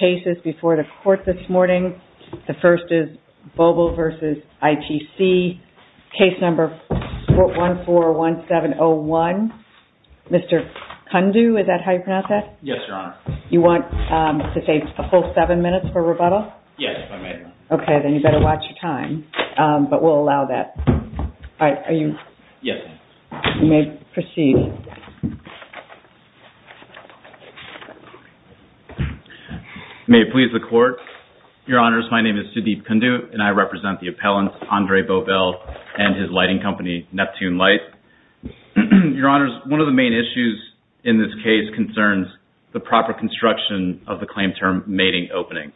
cases before the court this morning. The first is Bobel v. ITC, case number 141701. Mr. Kundu, is that how you pronounce that? Yes, Your Honor. You want to take a full seven minutes for rebuttal? Yes, if I may. Okay, then you better watch your time, but we'll allow that. All right, are you... Yes. You may proceed. May it please the court. Your Honors, my name is Sudeep Kundu, and I represent the appellant, Andre Bobel, and his lighting company, Neptune Light. Your Honors, one of the main issues in this case concerns the proper construction of the claim term mating opening.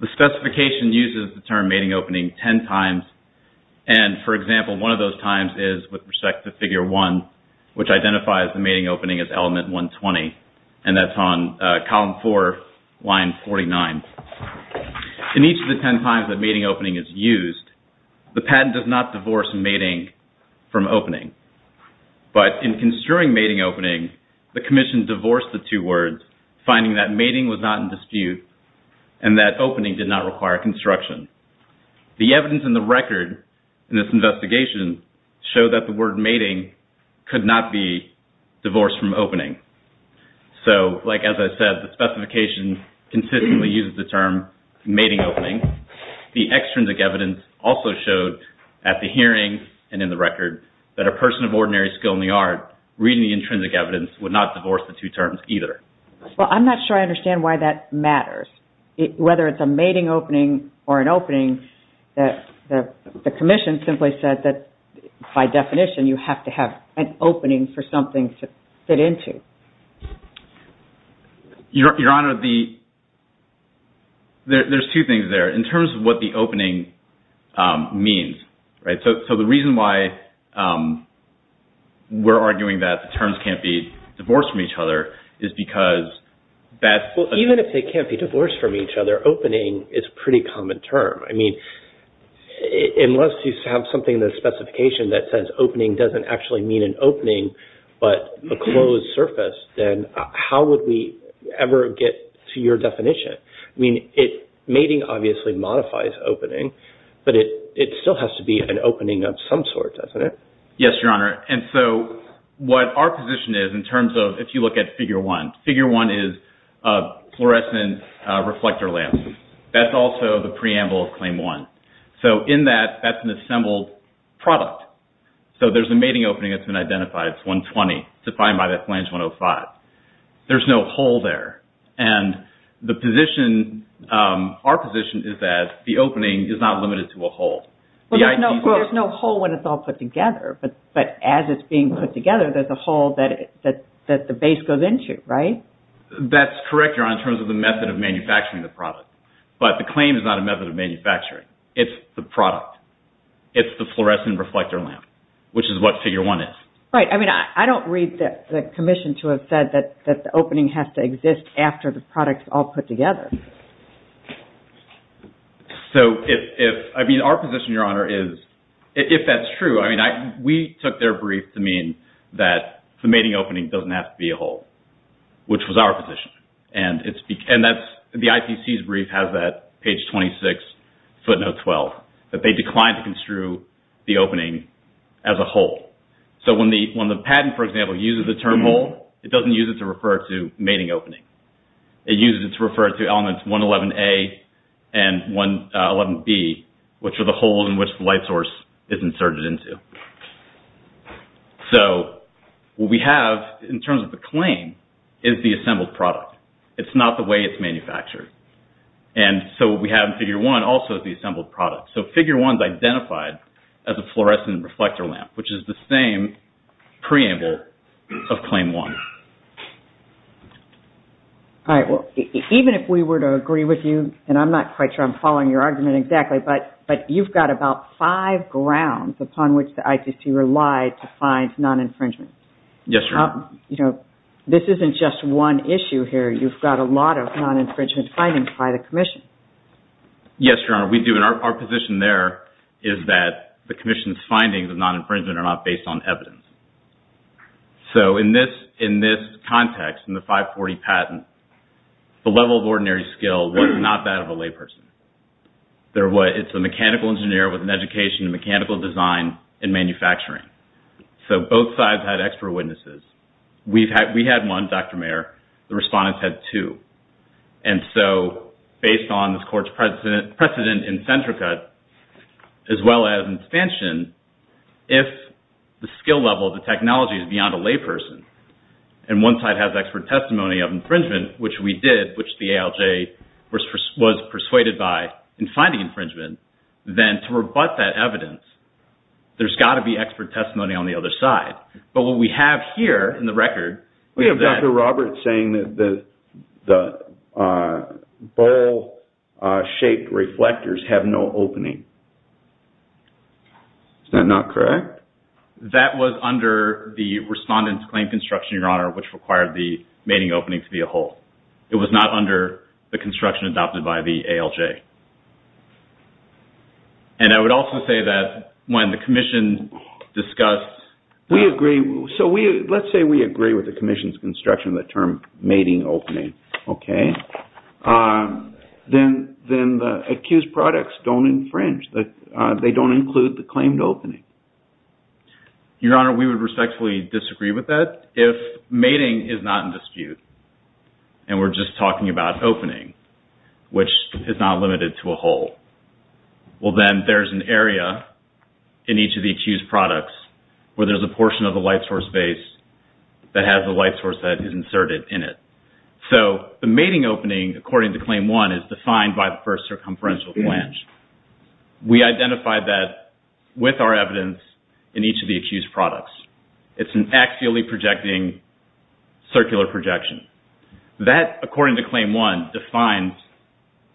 The specification uses the term mating opening ten times, and, for example, one of those times is with respect to figure one, which identifies the mating opening as element 120, and that's on column four, line 49. In each of the ten times that mating opening is used, the patent does not divorce mating from opening. But in construing mating opening, the commission divorced the two words, finding that mating was not in dispute, and that opening did not require construction. The evidence in the record in this investigation showed that the word mating could not be divorced from opening. So, like as I said, the specification consistently uses the term mating opening. The extrinsic evidence also showed at the hearing and in the record that a person of ordinary skill in the art, reading the intrinsic evidence, would not divorce the two terms either. Well, I'm not sure I understand why that matters. Whether it's a mating opening or an opening, the commission simply said that, by definition, you have to have an opening for something to fit into. Your Honor, there's two things there in terms of what the opening means. So, the reason why we're arguing that the terms can't be divorced from each other is because that's... Well, even if they can't be divorced from each other, opening is a pretty common term. I mean, unless you have something in the specification that says opening doesn't actually mean an opening, but a closed surface, then how would we ever get to your definition? I mean, mating obviously modifies opening, but it still has to be an opening of some sort, doesn't it? Yes, Your Honor. And so, what our position is in terms of, if you look at Figure 1, Figure 1 is a fluorescent reflector lamp. That's also the preamble of Claim 1. So, in that, that's an assembled product. So, there's a mating opening that's been identified. It's 120, defined by that Flange 105. There's no hole there. And the position, our position is that the opening is not limited to a hole. Well, there's no hole when it's all put together. But as it's being put together, there's a hole that the base goes into, right? That's correct, Your Honor, in terms of the method of manufacturing the product. But the claim is not a method of manufacturing. It's the product. It's the fluorescent reflector lamp, which is what Figure 1 is. Right. I mean, I don't read the Commission to have said that the opening has to exist after the product's all put together. So, if, I mean, our position, Your Honor, is, if that's true, I mean, we took their brief to mean that the mating opening doesn't have to be a hole, which was our position. And it's, and that's, the IPC's brief has that, page 26, footnote 12, that they declined to construe the opening as a hole. So, when the patent, for example, uses the term hole, it doesn't use it to refer to mating opening. It uses it to refer to elements 111A and 111B, which are the holes in which the light source is inserted into. So, what we have, in terms of the claim, is the assembled product. It's not the way it's manufactured. And so, what we have in Figure 1 also is the assembled product. So, Figure 1's identified as a fluorescent reflector lamp, which is the same preamble of Claim 1. All right. Well, even if we were to agree with you, and I'm not quite sure I'm following your argument exactly, but you've got about five grounds upon which the IPC relied to find non-infringement. Yes, Your Honor. You know, this isn't just one issue here. You've got a lot of non-infringement findings by the Commission. Yes, Your Honor, we do. And our position there is that the Commission's findings of non-infringement are not based on evidence. So, in this context, in the 540 patent, the level of ordinary skill was not that of a layperson. It's a mechanical engineer with an education in mechanical design and manufacturing. So, both sides had expert witnesses. We had one, Dr. Mayer. The respondents had two. And so, based on this Court's precedent in Centrica, as well as in Spansion, if the skill level of the technology is beyond a layperson, and one side has expert testimony of infringement, which we did, which the ALJ was persuaded by in finding infringement, then to rebut that evidence, there's got to be expert testimony on the other side. But what we have here in the record is that— we're saying that the bowl-shaped reflectors have no opening. Is that not correct? That was under the respondent's claim construction, Your Honor, which required the mating opening to be a hole. It was not under the construction adopted by the ALJ. And I would also say that when the Commission discussed— We agree. So, let's say we agree with the Commission's construction of the term mating opening. Then the accused products don't infringe. They don't include the claimed opening. Your Honor, we would respectfully disagree with that. If mating is not in dispute, and we're just talking about opening, which is not limited to a hole, well, then there's an area in each of the accused products where there's a portion of the light source base that has a light source that is inserted in it. So, the mating opening, according to Claim 1, is defined by the first circumferential flange. We identified that with our evidence in each of the accused products. It's an axially projecting circular projection. That, according to Claim 1, defines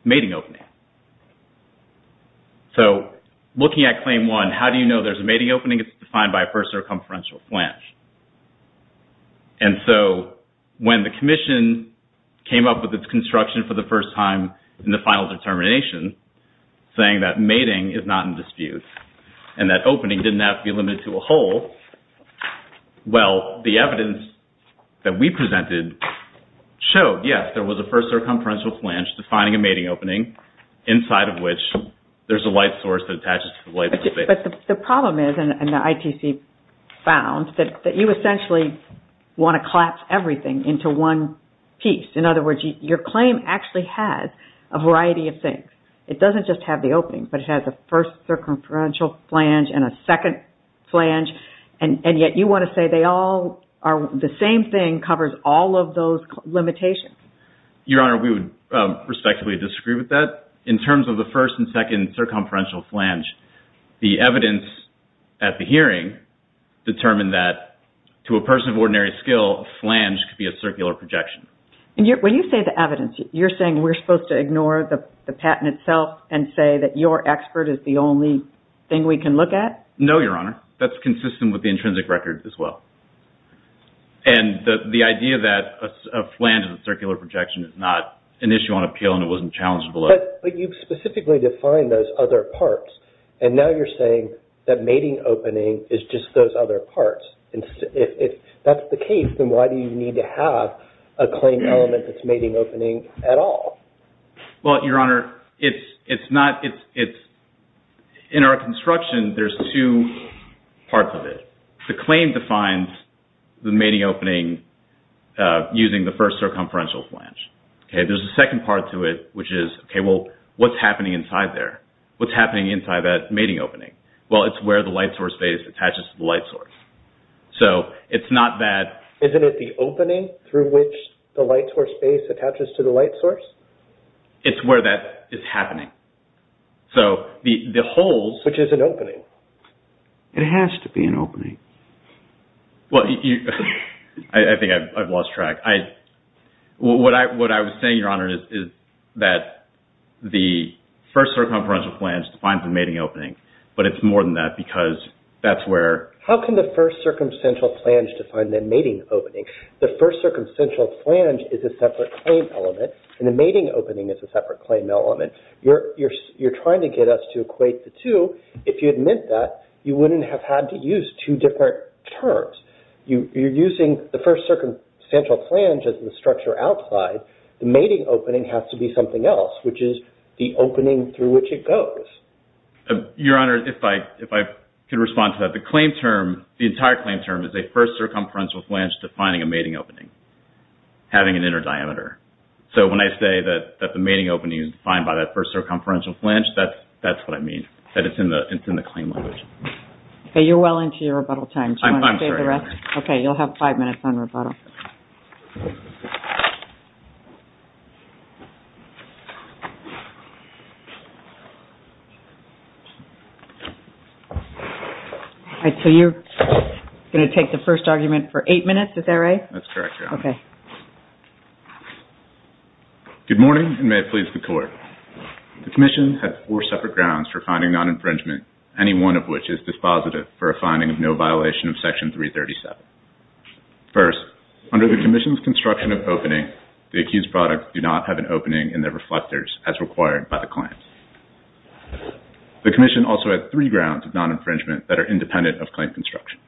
mating opening. So, looking at Claim 1, how do you know there's a mating opening? I think it's defined by a first circumferential flange. And so, when the Commission came up with its construction for the first time in the final determination, saying that mating is not in dispute, and that opening didn't have to be limited to a hole, well, the evidence that we presented showed, yes, there was a first circumferential flange defining a mating opening inside of which there's a light source that attaches to the light source base. But the problem is, and the ITC found, that you essentially want to collapse everything into one piece. In other words, your claim actually has a variety of things. It doesn't just have the opening, but it has a first circumferential flange and a second flange, and yet you want to say they all are the same thing covers all of those limitations. Your Honor, we would respectfully disagree with that. In terms of the first and second circumferential flange, the evidence at the hearing determined that, to a person of ordinary skill, a flange could be a circular projection. And when you say the evidence, you're saying we're supposed to ignore the patent itself and say that your expert is the only thing we can look at? No, Your Honor. That's consistent with the intrinsic record as well. And the idea that a flange is a circular projection is not an issue on appeal, and it wasn't challenged below. But you specifically defined those other parts, and now you're saying that mating opening is just those other parts. If that's the case, then why do you need to have a claim element that's mating opening at all? Well, Your Honor, in our construction, there's two parts of it. The claim defines the mating opening using the first circumferential flange. There's a second part to it, which is, okay, well, what's happening inside there? What's happening inside that mating opening? Well, it's where the light source base attaches to the light source. So it's not that... Isn't it the opening through which the light source base attaches to the light source? It's where that is happening. So the holes... Which is an opening. It has to be an opening. Well, I think I've lost track. What I was saying, Your Honor, is that the first circumferential flange defines the mating opening, but it's more than that because that's where... How can the first circumferential flange define the mating opening? The first circumferential flange is a separate claim element, and the mating opening is a separate claim element. You're trying to get us to equate the two. If you had meant that, you wouldn't have had to use two different terms. You're using the first circumferential flange as the structure outside. The mating opening has to be something else, which is the opening through which it goes. Your Honor, if I could respond to that. The claim term, the entire claim term, is a first circumferential flange defining a mating opening, having an inner diameter. So when I say that the mating opening is defined by that first circumferential flange, that's what I mean, that it's in the claim language. You're well into your rebuttal time. I'm sorry, Your Honor. Okay, you'll have five minutes on rebuttal. So you're going to take the first argument for eight minutes, is that right? That's correct, Your Honor. Okay. Good morning, and may it please the Court. The Commission has four separate grounds for finding non-infringement, any one of which is dispositive for a finding of no violation of Section 337. First, under the Commission's construction of opening, the accused products do not have an opening in their reflectors as required by the claims. The Commission also has three grounds of non-infringement that are independent of claim construction.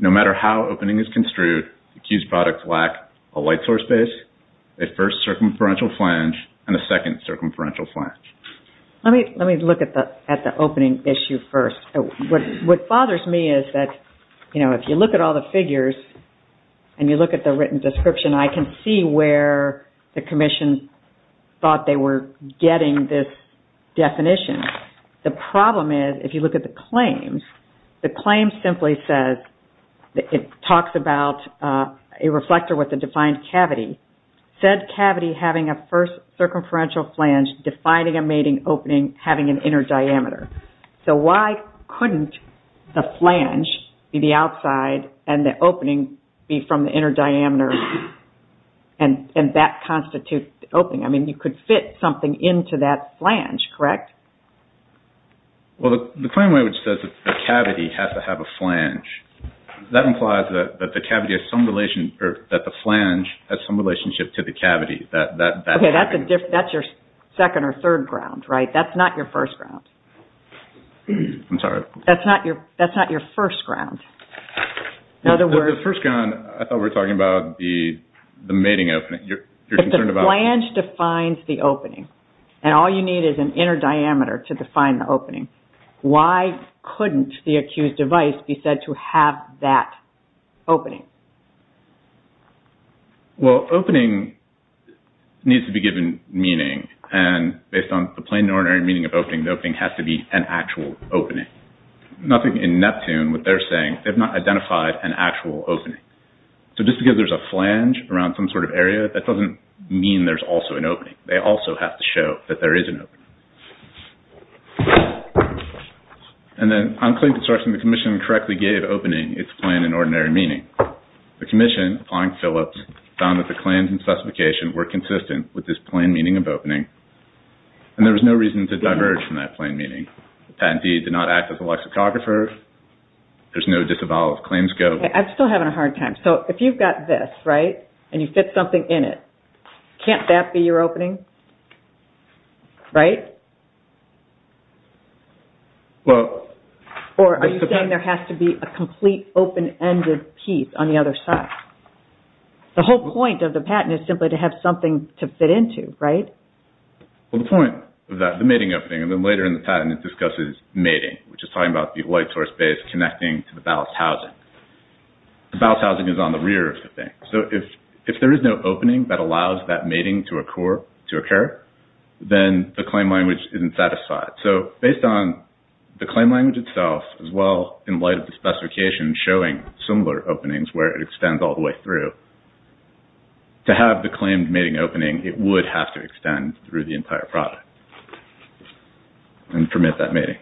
No matter how opening is construed, the accused products lack a light source base, a first circumferential flange, and a second circumferential flange. Let me look at the opening issue first. What bothers me is that, you know, if you look at all the figures and you look at the written description, I can see where the Commission thought they were getting this definition. The problem is, if you look at the claims, the claim simply says it talks about a reflector with a defined cavity. Said cavity having a first circumferential flange, defining a mating opening, having an inner diameter. So why couldn't the flange be the outside and the opening be from the inner diameter and that constitute the opening? I mean, you could fit something into that flange, correct? Well, the claim language says that the cavity has to have a flange. That implies that the flange has some relationship to the cavity. Okay, that's your second or third ground, right? That's not your first ground. I'm sorry. That's not your first ground. The first ground, I thought we were talking about the mating opening. If the flange defines the opening and all you need is an inner diameter to define the opening, why couldn't the accused device be said to have that opening? Well, opening needs to be given meaning and based on the plain and ordinary meaning of opening, the opening has to be an actual opening. Nothing in Neptune, what they're saying, they've not identified an actual opening. So just because there's a flange around some sort of area, that doesn't mean there's also an opening. They also have to show that there is an opening. And then on claim construction, the commission correctly gave opening its plain and ordinary meaning. The commission, applying Phillips, found that the claims and specification were consistent with this plain meaning of opening and there was no reason to diverge from that plain meaning. The patentee did not act as a lexicographer. There's no disavowal of claims go. I'm still having a hard time. So if you've got this, right, and you fit something in it, can't that be your opening, right? Or are you saying there has to be a complete open-ended piece on the other side? The whole point of the patent is simply to have something to fit into, right? Well, the point of that, the mating opening, and then later in the patent it discusses mating, which is talking about the white source base connecting to the ballast housing. The ballast housing is on the rear of the thing. So if there is no opening that allows that mating to occur, then the claim language isn't satisfied. So based on the claim language itself, as well in light of the specification showing similar openings where it extends all the way through, to have the claimed mating opening, it would have to extend through the entire product and permit that mating.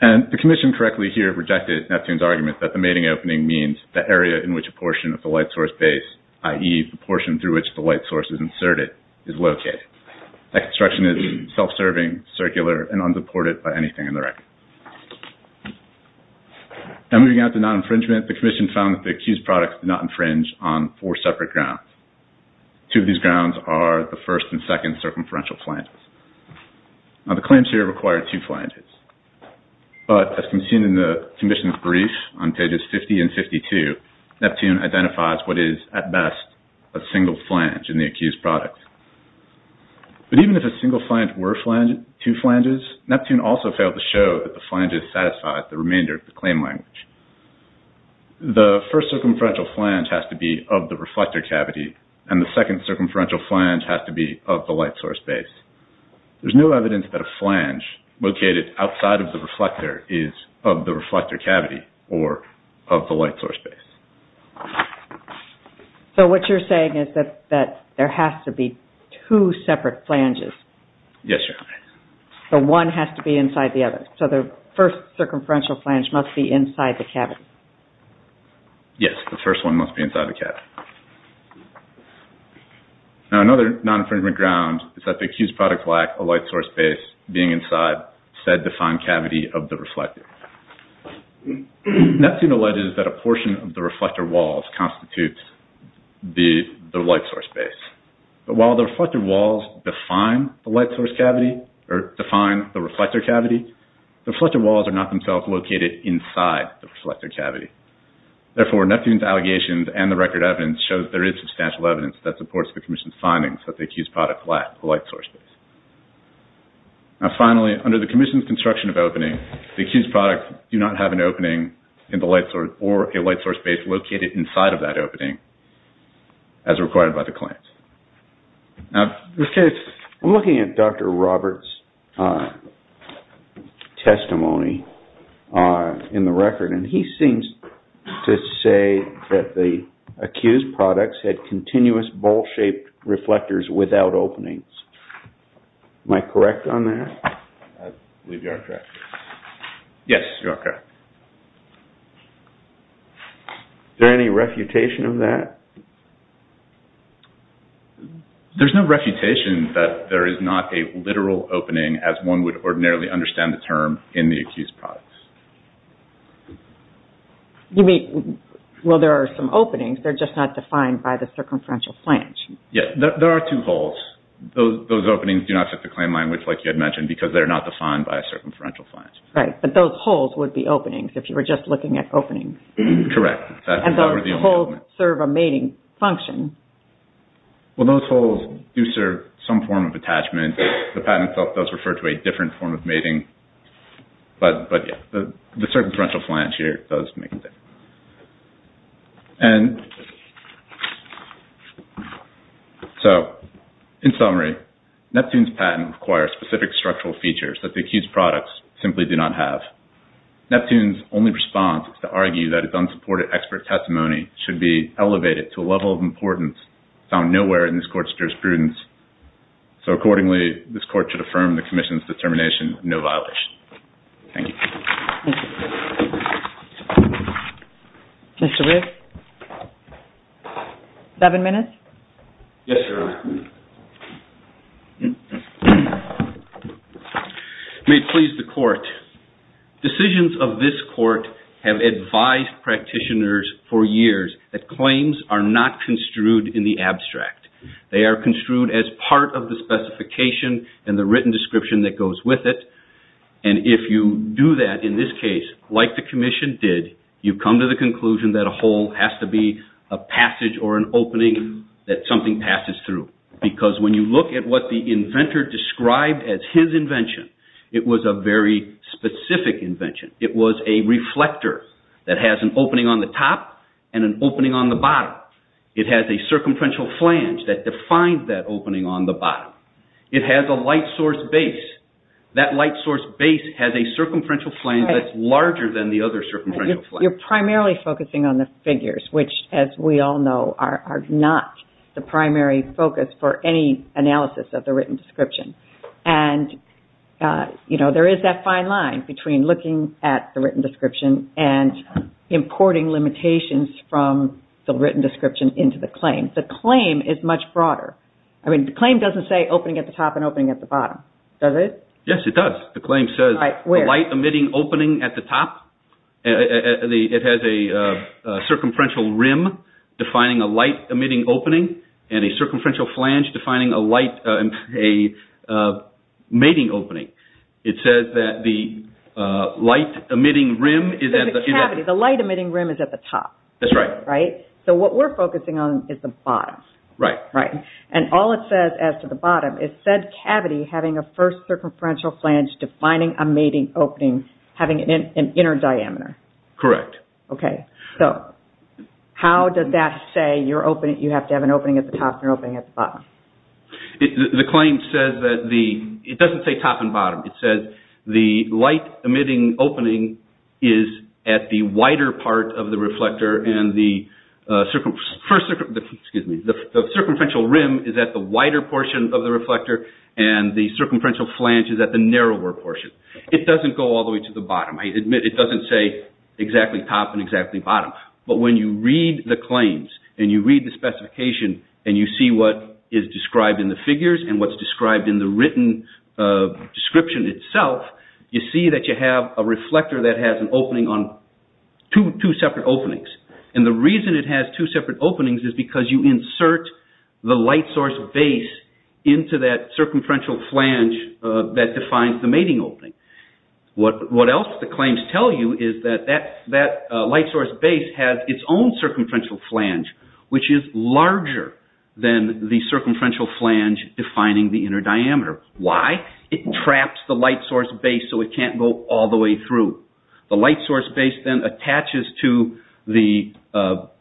And the commission correctly here rejected Neptune's argument that the mating opening means the area in which a portion of the white source base, i.e., the portion through which the white source is inserted, is located. That construction is self-serving, circular, and unsupported by anything in the record. Now moving on to non-infringement, the commission found that the accused products did not infringe on four separate grounds. Two of these grounds are the first and second circumferential flanges. Now the claims here require two flanges. But as can be seen in the commission's brief on pages 50 and 52, Neptune identifies what is, at best, a single flange in the accused product. But even if a single flange were two flanges, Neptune also failed to show that the flanges satisfied the remainder of the claim language. The first circumferential flange has to be of the reflector cavity, and the second circumferential flange has to be of the light source base. There's no evidence that a flange located outside of the reflector is of the reflector cavity or of the light source base. So what you're saying is that there has to be two separate flanges. Yes, Your Honor. So one has to be inside the other. So the first circumferential flange must be inside the cavity. Yes, the first one must be inside the cavity. Now another non-infringement ground is that the accused product lacks a light source base being inside said defined cavity of the reflector. Neptune alleges that a portion of the reflector walls constitutes the light source base. But while the reflector walls define the light source cavity or define the reflector cavity, the reflector walls are not themselves located inside the reflector cavity. Therefore, Neptune's allegations and the record evidence show that there is substantial evidence that supports the commission's findings that the accused product lacks a light source base. Now finally, under the commission's construction of opening, the accused product do not have an opening or a light source base located inside of that opening as required by the claims. Now, I'm looking at Dr. Roberts' testimony in the record and he seems to say that the accused products had continuous ball-shaped reflectors without openings. Am I correct on that? I believe you are correct. Yes, you are correct. Is there any refutation of that? There's no refutation that there is not a literal opening as one would ordinarily understand the term in the accused products. Well, there are some openings. They're just not defined by the circumferential flange. Yes, there are two holes. Those openings do not fit the claim language like you had mentioned because they're not defined by a circumferential flange. Right, but those holes would be openings if you were just looking at openings. Correct. And those holes serve a mating function. Well, those holes do serve some form of attachment. The patent itself does refer to a different form of mating. But the circumferential flange here does make a difference. And so, in summary, Neptune's patent requires specific structural features that the accused products simply do not have. Neptune's only response is to argue that its unsupported expert testimony should be elevated to a level of importance found nowhere in this court's jurisprudence. So accordingly, this court should affirm the commission's determination Thank you. Mr. Riggs? Seven minutes? Yes, Your Honor. May it please the court. Decisions of this court have advised practitioners for years that claims are not construed in the abstract. They are construed as part of the specification and the written description that goes with it. And if you do that, in this case, like the commission did, you come to the conclusion that a hole has to be a passage or an opening that something passes through. Because when you look at what the inventor described as his invention, it was a very specific invention. It was a reflector that has an opening on the top and an opening on the bottom. It has a circumferential flange that defines that opening on the bottom. It has a light source base. That light source base has a circumferential flange that's larger than the other circumferential flange. You're primarily focusing on the figures, which, as we all know, are not the primary focus for any analysis of the written description. And there is that fine line between looking at the written description and importing limitations from the written description into the claim. The claim is much broader. I mean, the claim doesn't say opening at the top and opening at the bottom. Does it? Yes, it does. The claim says light-emitting opening at the top. It has a circumferential rim defining a light-emitting opening and a circumferential flange defining a mating opening. It says that the light-emitting rim is at the top. That's right. Right? So what we're focusing on is the bottom. Right. And all it says as to the bottom is, said cavity having a first circumferential flange defining a mating opening, having an inner diameter. Correct. Okay. So how does that say you have to have an opening at the top and an opening at the bottom? The claim says that the—it doesn't say top and bottom. It says the light-emitting opening is at the wider part of the reflector and the circumferential rim is at the wider portion of the reflector and the circumferential flange is at the narrower portion. It doesn't go all the way to the bottom. I admit it doesn't say exactly top and exactly bottom. But when you read the claims and you read the specification and you see what is described in the figures and what's described in the written description itself, you see that you have a reflector that has an opening on—two separate openings. And the reason it has two separate openings is because you insert the light source base into that circumferential flange that defines the mating opening. What else the claims tell you is that that light source base has its own circumferential flange, which is larger than the circumferential flange defining the inner diameter. Why? It traps the light source base so it can't go all the way through. The light source base then attaches to the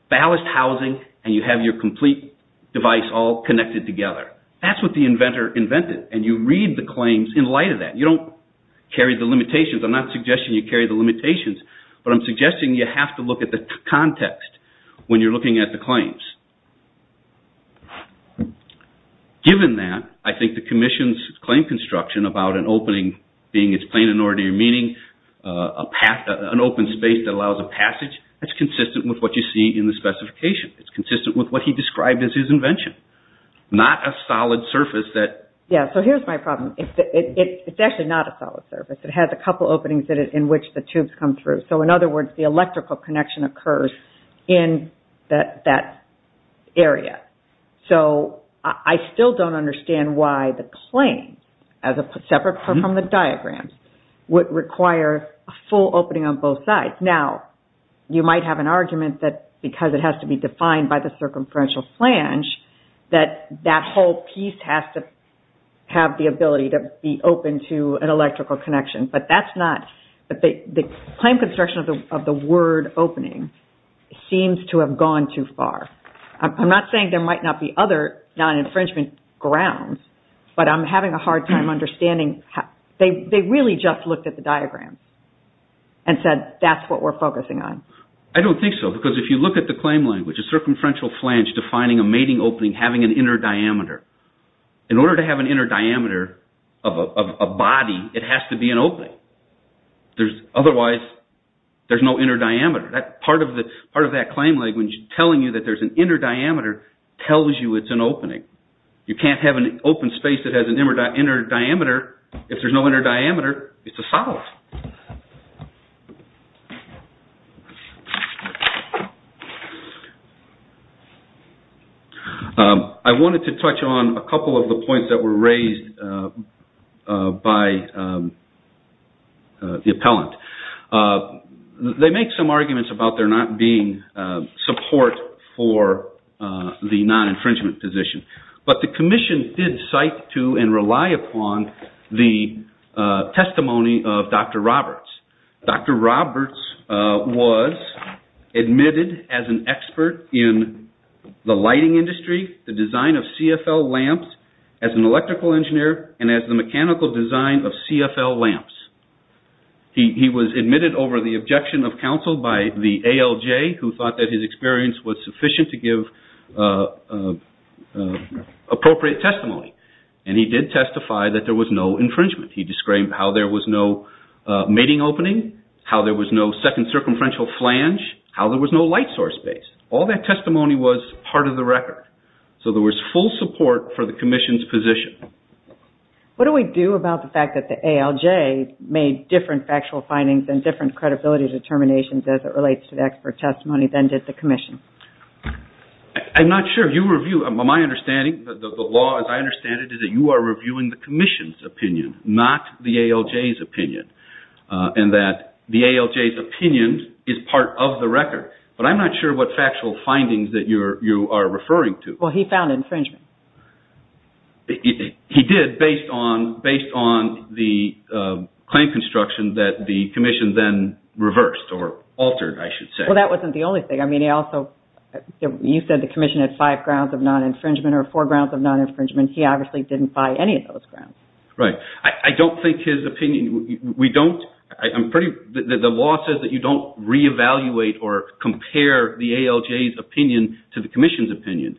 ballast housing and you have your complete device all connected together. That's what the inventor invented. And you read the claims in light of that. You don't carry the limitations. I'm not suggesting you carry the limitations, but I'm suggesting you have to look at the context when you're looking at the claims. Given that, I think the commission's claim construction about an opening being its plain and ordinary meaning, an open space that allows a passage, that's consistent with what you see in the specification. It's consistent with what he described as his invention. Not a solid surface that— Yeah, so here's my problem. It's actually not a solid surface. It has a couple openings in which the tubes come through. So, in other words, the electrical connection occurs in that area. So, I still don't understand why the claims, as separate from the diagrams, would require a full opening on both sides. Now, you might have an argument that because it has to be defined by the circumferential flange, that that whole piece has to have the ability to be open to an electrical connection. But that's not—the claim construction of the word opening seems to have gone too far. I'm not saying there might not be other non-infringement grounds, but I'm having a hard time understanding. They really just looked at the diagram and said, that's what we're focusing on. I don't think so, because if you look at the claim language, a circumferential flange defining a mating opening having an inner diameter. In order to have an inner diameter of a body, it has to be an opening. Otherwise, there's no inner diameter. Part of that claim language, telling you that there's an inner diameter, tells you it's an opening. You can't have an open space that has an inner diameter. If there's no inner diameter, it's a solid. I wanted to touch on a couple of the points that were raised by the appellant. They make some arguments about there not being support for the non-infringement position. The commission did cite to and rely upon the testimony of Dr. Roberts. Dr. Roberts was admitted as an expert in the lighting industry, the design of CFL lamps, as an electrical engineer, and as the mechanical design of CFL lamps. He was admitted over the objection of counsel by the ALJ, who thought that his experience was sufficient to give appropriate testimony. He did testify that there was no infringement. He described how there was no mating opening, how there was no second circumferential flange, how there was no light source base. All that testimony was part of the record. There was full support for the commission's position. What do we do about the fact that the ALJ made different factual findings and different credibility determinations as it relates to the expert testimony than did the commission? I'm not sure. My understanding, the law as I understand it, is that you are reviewing the commission's opinion, not the ALJ's opinion, and that the ALJ's opinion is part of the record. But I'm not sure what factual findings that you are referring to. Well, he found infringement. He did, based on the claim construction that the commission then reversed or altered, I should say. Well, that wasn't the only thing. I mean, he also, you said the commission had five grounds of non-infringement or four grounds of non-infringement. He obviously didn't buy any of those grounds. Right. I don't think his opinion, we don't, I'm pretty, the law says that you don't reevaluate or compare the ALJ's opinion to the commission's opinion.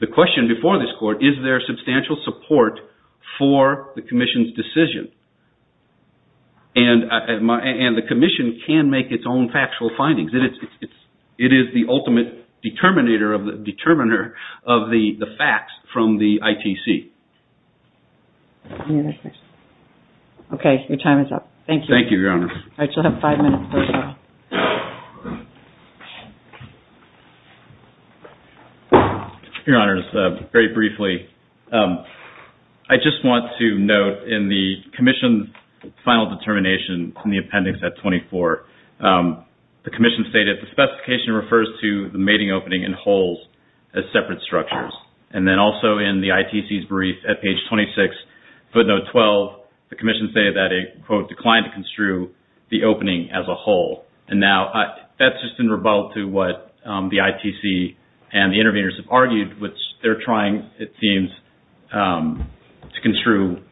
The question before this court, is there substantial support for the commission's decision? And the commission can make its own factual findings. It is the ultimate determiner of the facts from the ITC. Okay. Thank you. Thank you, Your Honor. All right, you'll have five minutes left now. Your Honor, just very briefly, I just want to note in the commission's final determination in the appendix at 24, the commission stated the specification refers to the mating opening and holes as separate structures. And then also in the ITC's brief at page 26, footnote 12, the commission stated that it, quote, declined to construe the opening as a hole. And now that's just in rebuttal to what the ITC and the interveners have argued, which they're trying, it seems, to construe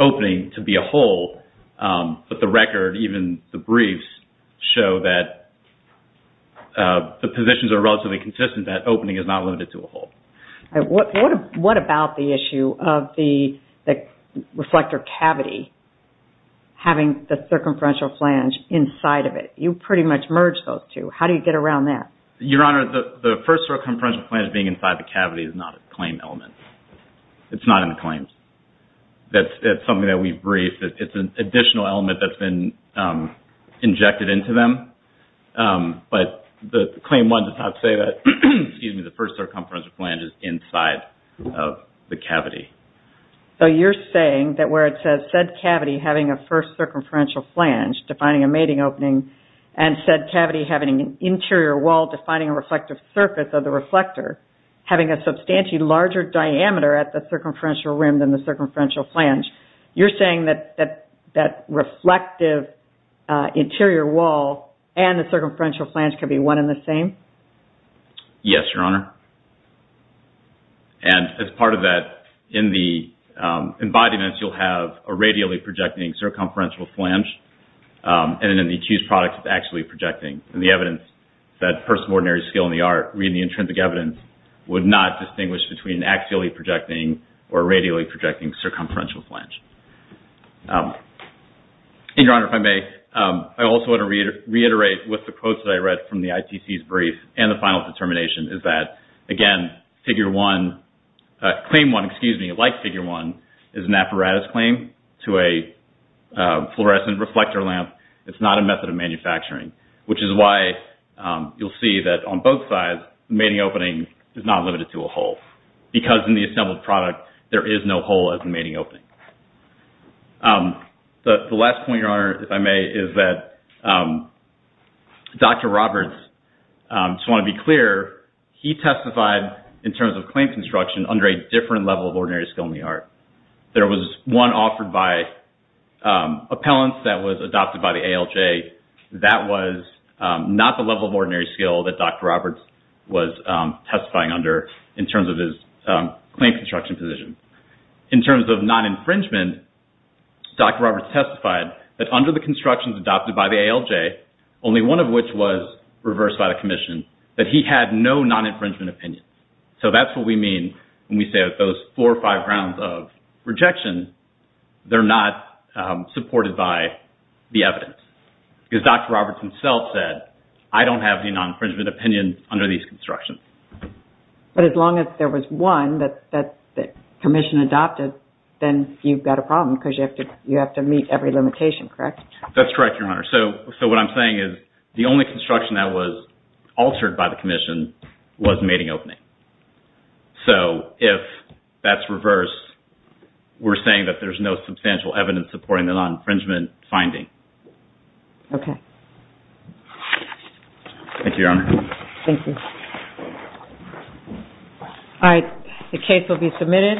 opening to be a hole. But the record, even the briefs, show that the positions are relatively consistent that opening is not limited to a hole. All right, what about the issue of the reflector cavity having the circumferential flange inside of it? You pretty much merged those two. How do you get around that? Your Honor, the first circumferential flange being inside the cavity is not a claim element. It's not in the claims. That's something that we've briefed. It's an additional element that's been injected into them. But the claim one does not say that, excuse me, the first circumferential flange is inside of the cavity. So you're saying that where it says, said cavity having a first circumferential flange, defining a mating opening, and said cavity having an interior wall defining a reflective surface of the reflector, having a substantially larger diameter at the circumferential rim than the circumferential flange, you're saying that that reflective interior wall and the circumferential flange can be one and the same? Yes, Your Honor. And as part of that, in the embodiments, you'll have a radially projecting circumferential flange, and then the accused product is axially projecting. And the evidence that person of ordinary skill in the art reading the intrinsic evidence would not distinguish between axially projecting or radially projecting circumferential flange. And, Your Honor, if I may, I also want to reiterate with the quotes that I read from the ITC's brief and the final determination is that, again, claim one, excuse me, like figure one, is an apparatus claim to a fluorescent reflector lamp. It's not a method of manufacturing, which is why you'll see that on both sides, the mating opening is not limited to a hole. Because in the assembled product, there is no hole as the mating opening. The last point, Your Honor, if I may, is that Dr. Roberts, just want to be clear, he testified in terms of claim construction under a different level of ordinary skill in the art. There was one offered by appellants that was adopted by the ALJ. That was not the level of ordinary skill that Dr. Roberts was testifying under in terms of his claim construction position. In terms of non-infringement, Dr. Roberts testified that under the constructions adopted by the ALJ, only one of which was reversed by the commission, that he had no non-infringement opinion. So that's what we mean when we say that those four or five rounds of rejection, they're not supported by the evidence. Because Dr. Roberts himself said, I don't have any non-infringement opinion under these constructions. But as long as there was one that the commission adopted, then you've got a problem because you have to meet every limitation, correct? That's correct, Your Honor. So what I'm saying is, the only construction that was altered by the commission was mating opening. So if that's reversed, we're saying that there's no substantial evidence supporting the non-infringement finding. Okay. Thank you, Your Honor. Thank you. All right, the case will be submitted.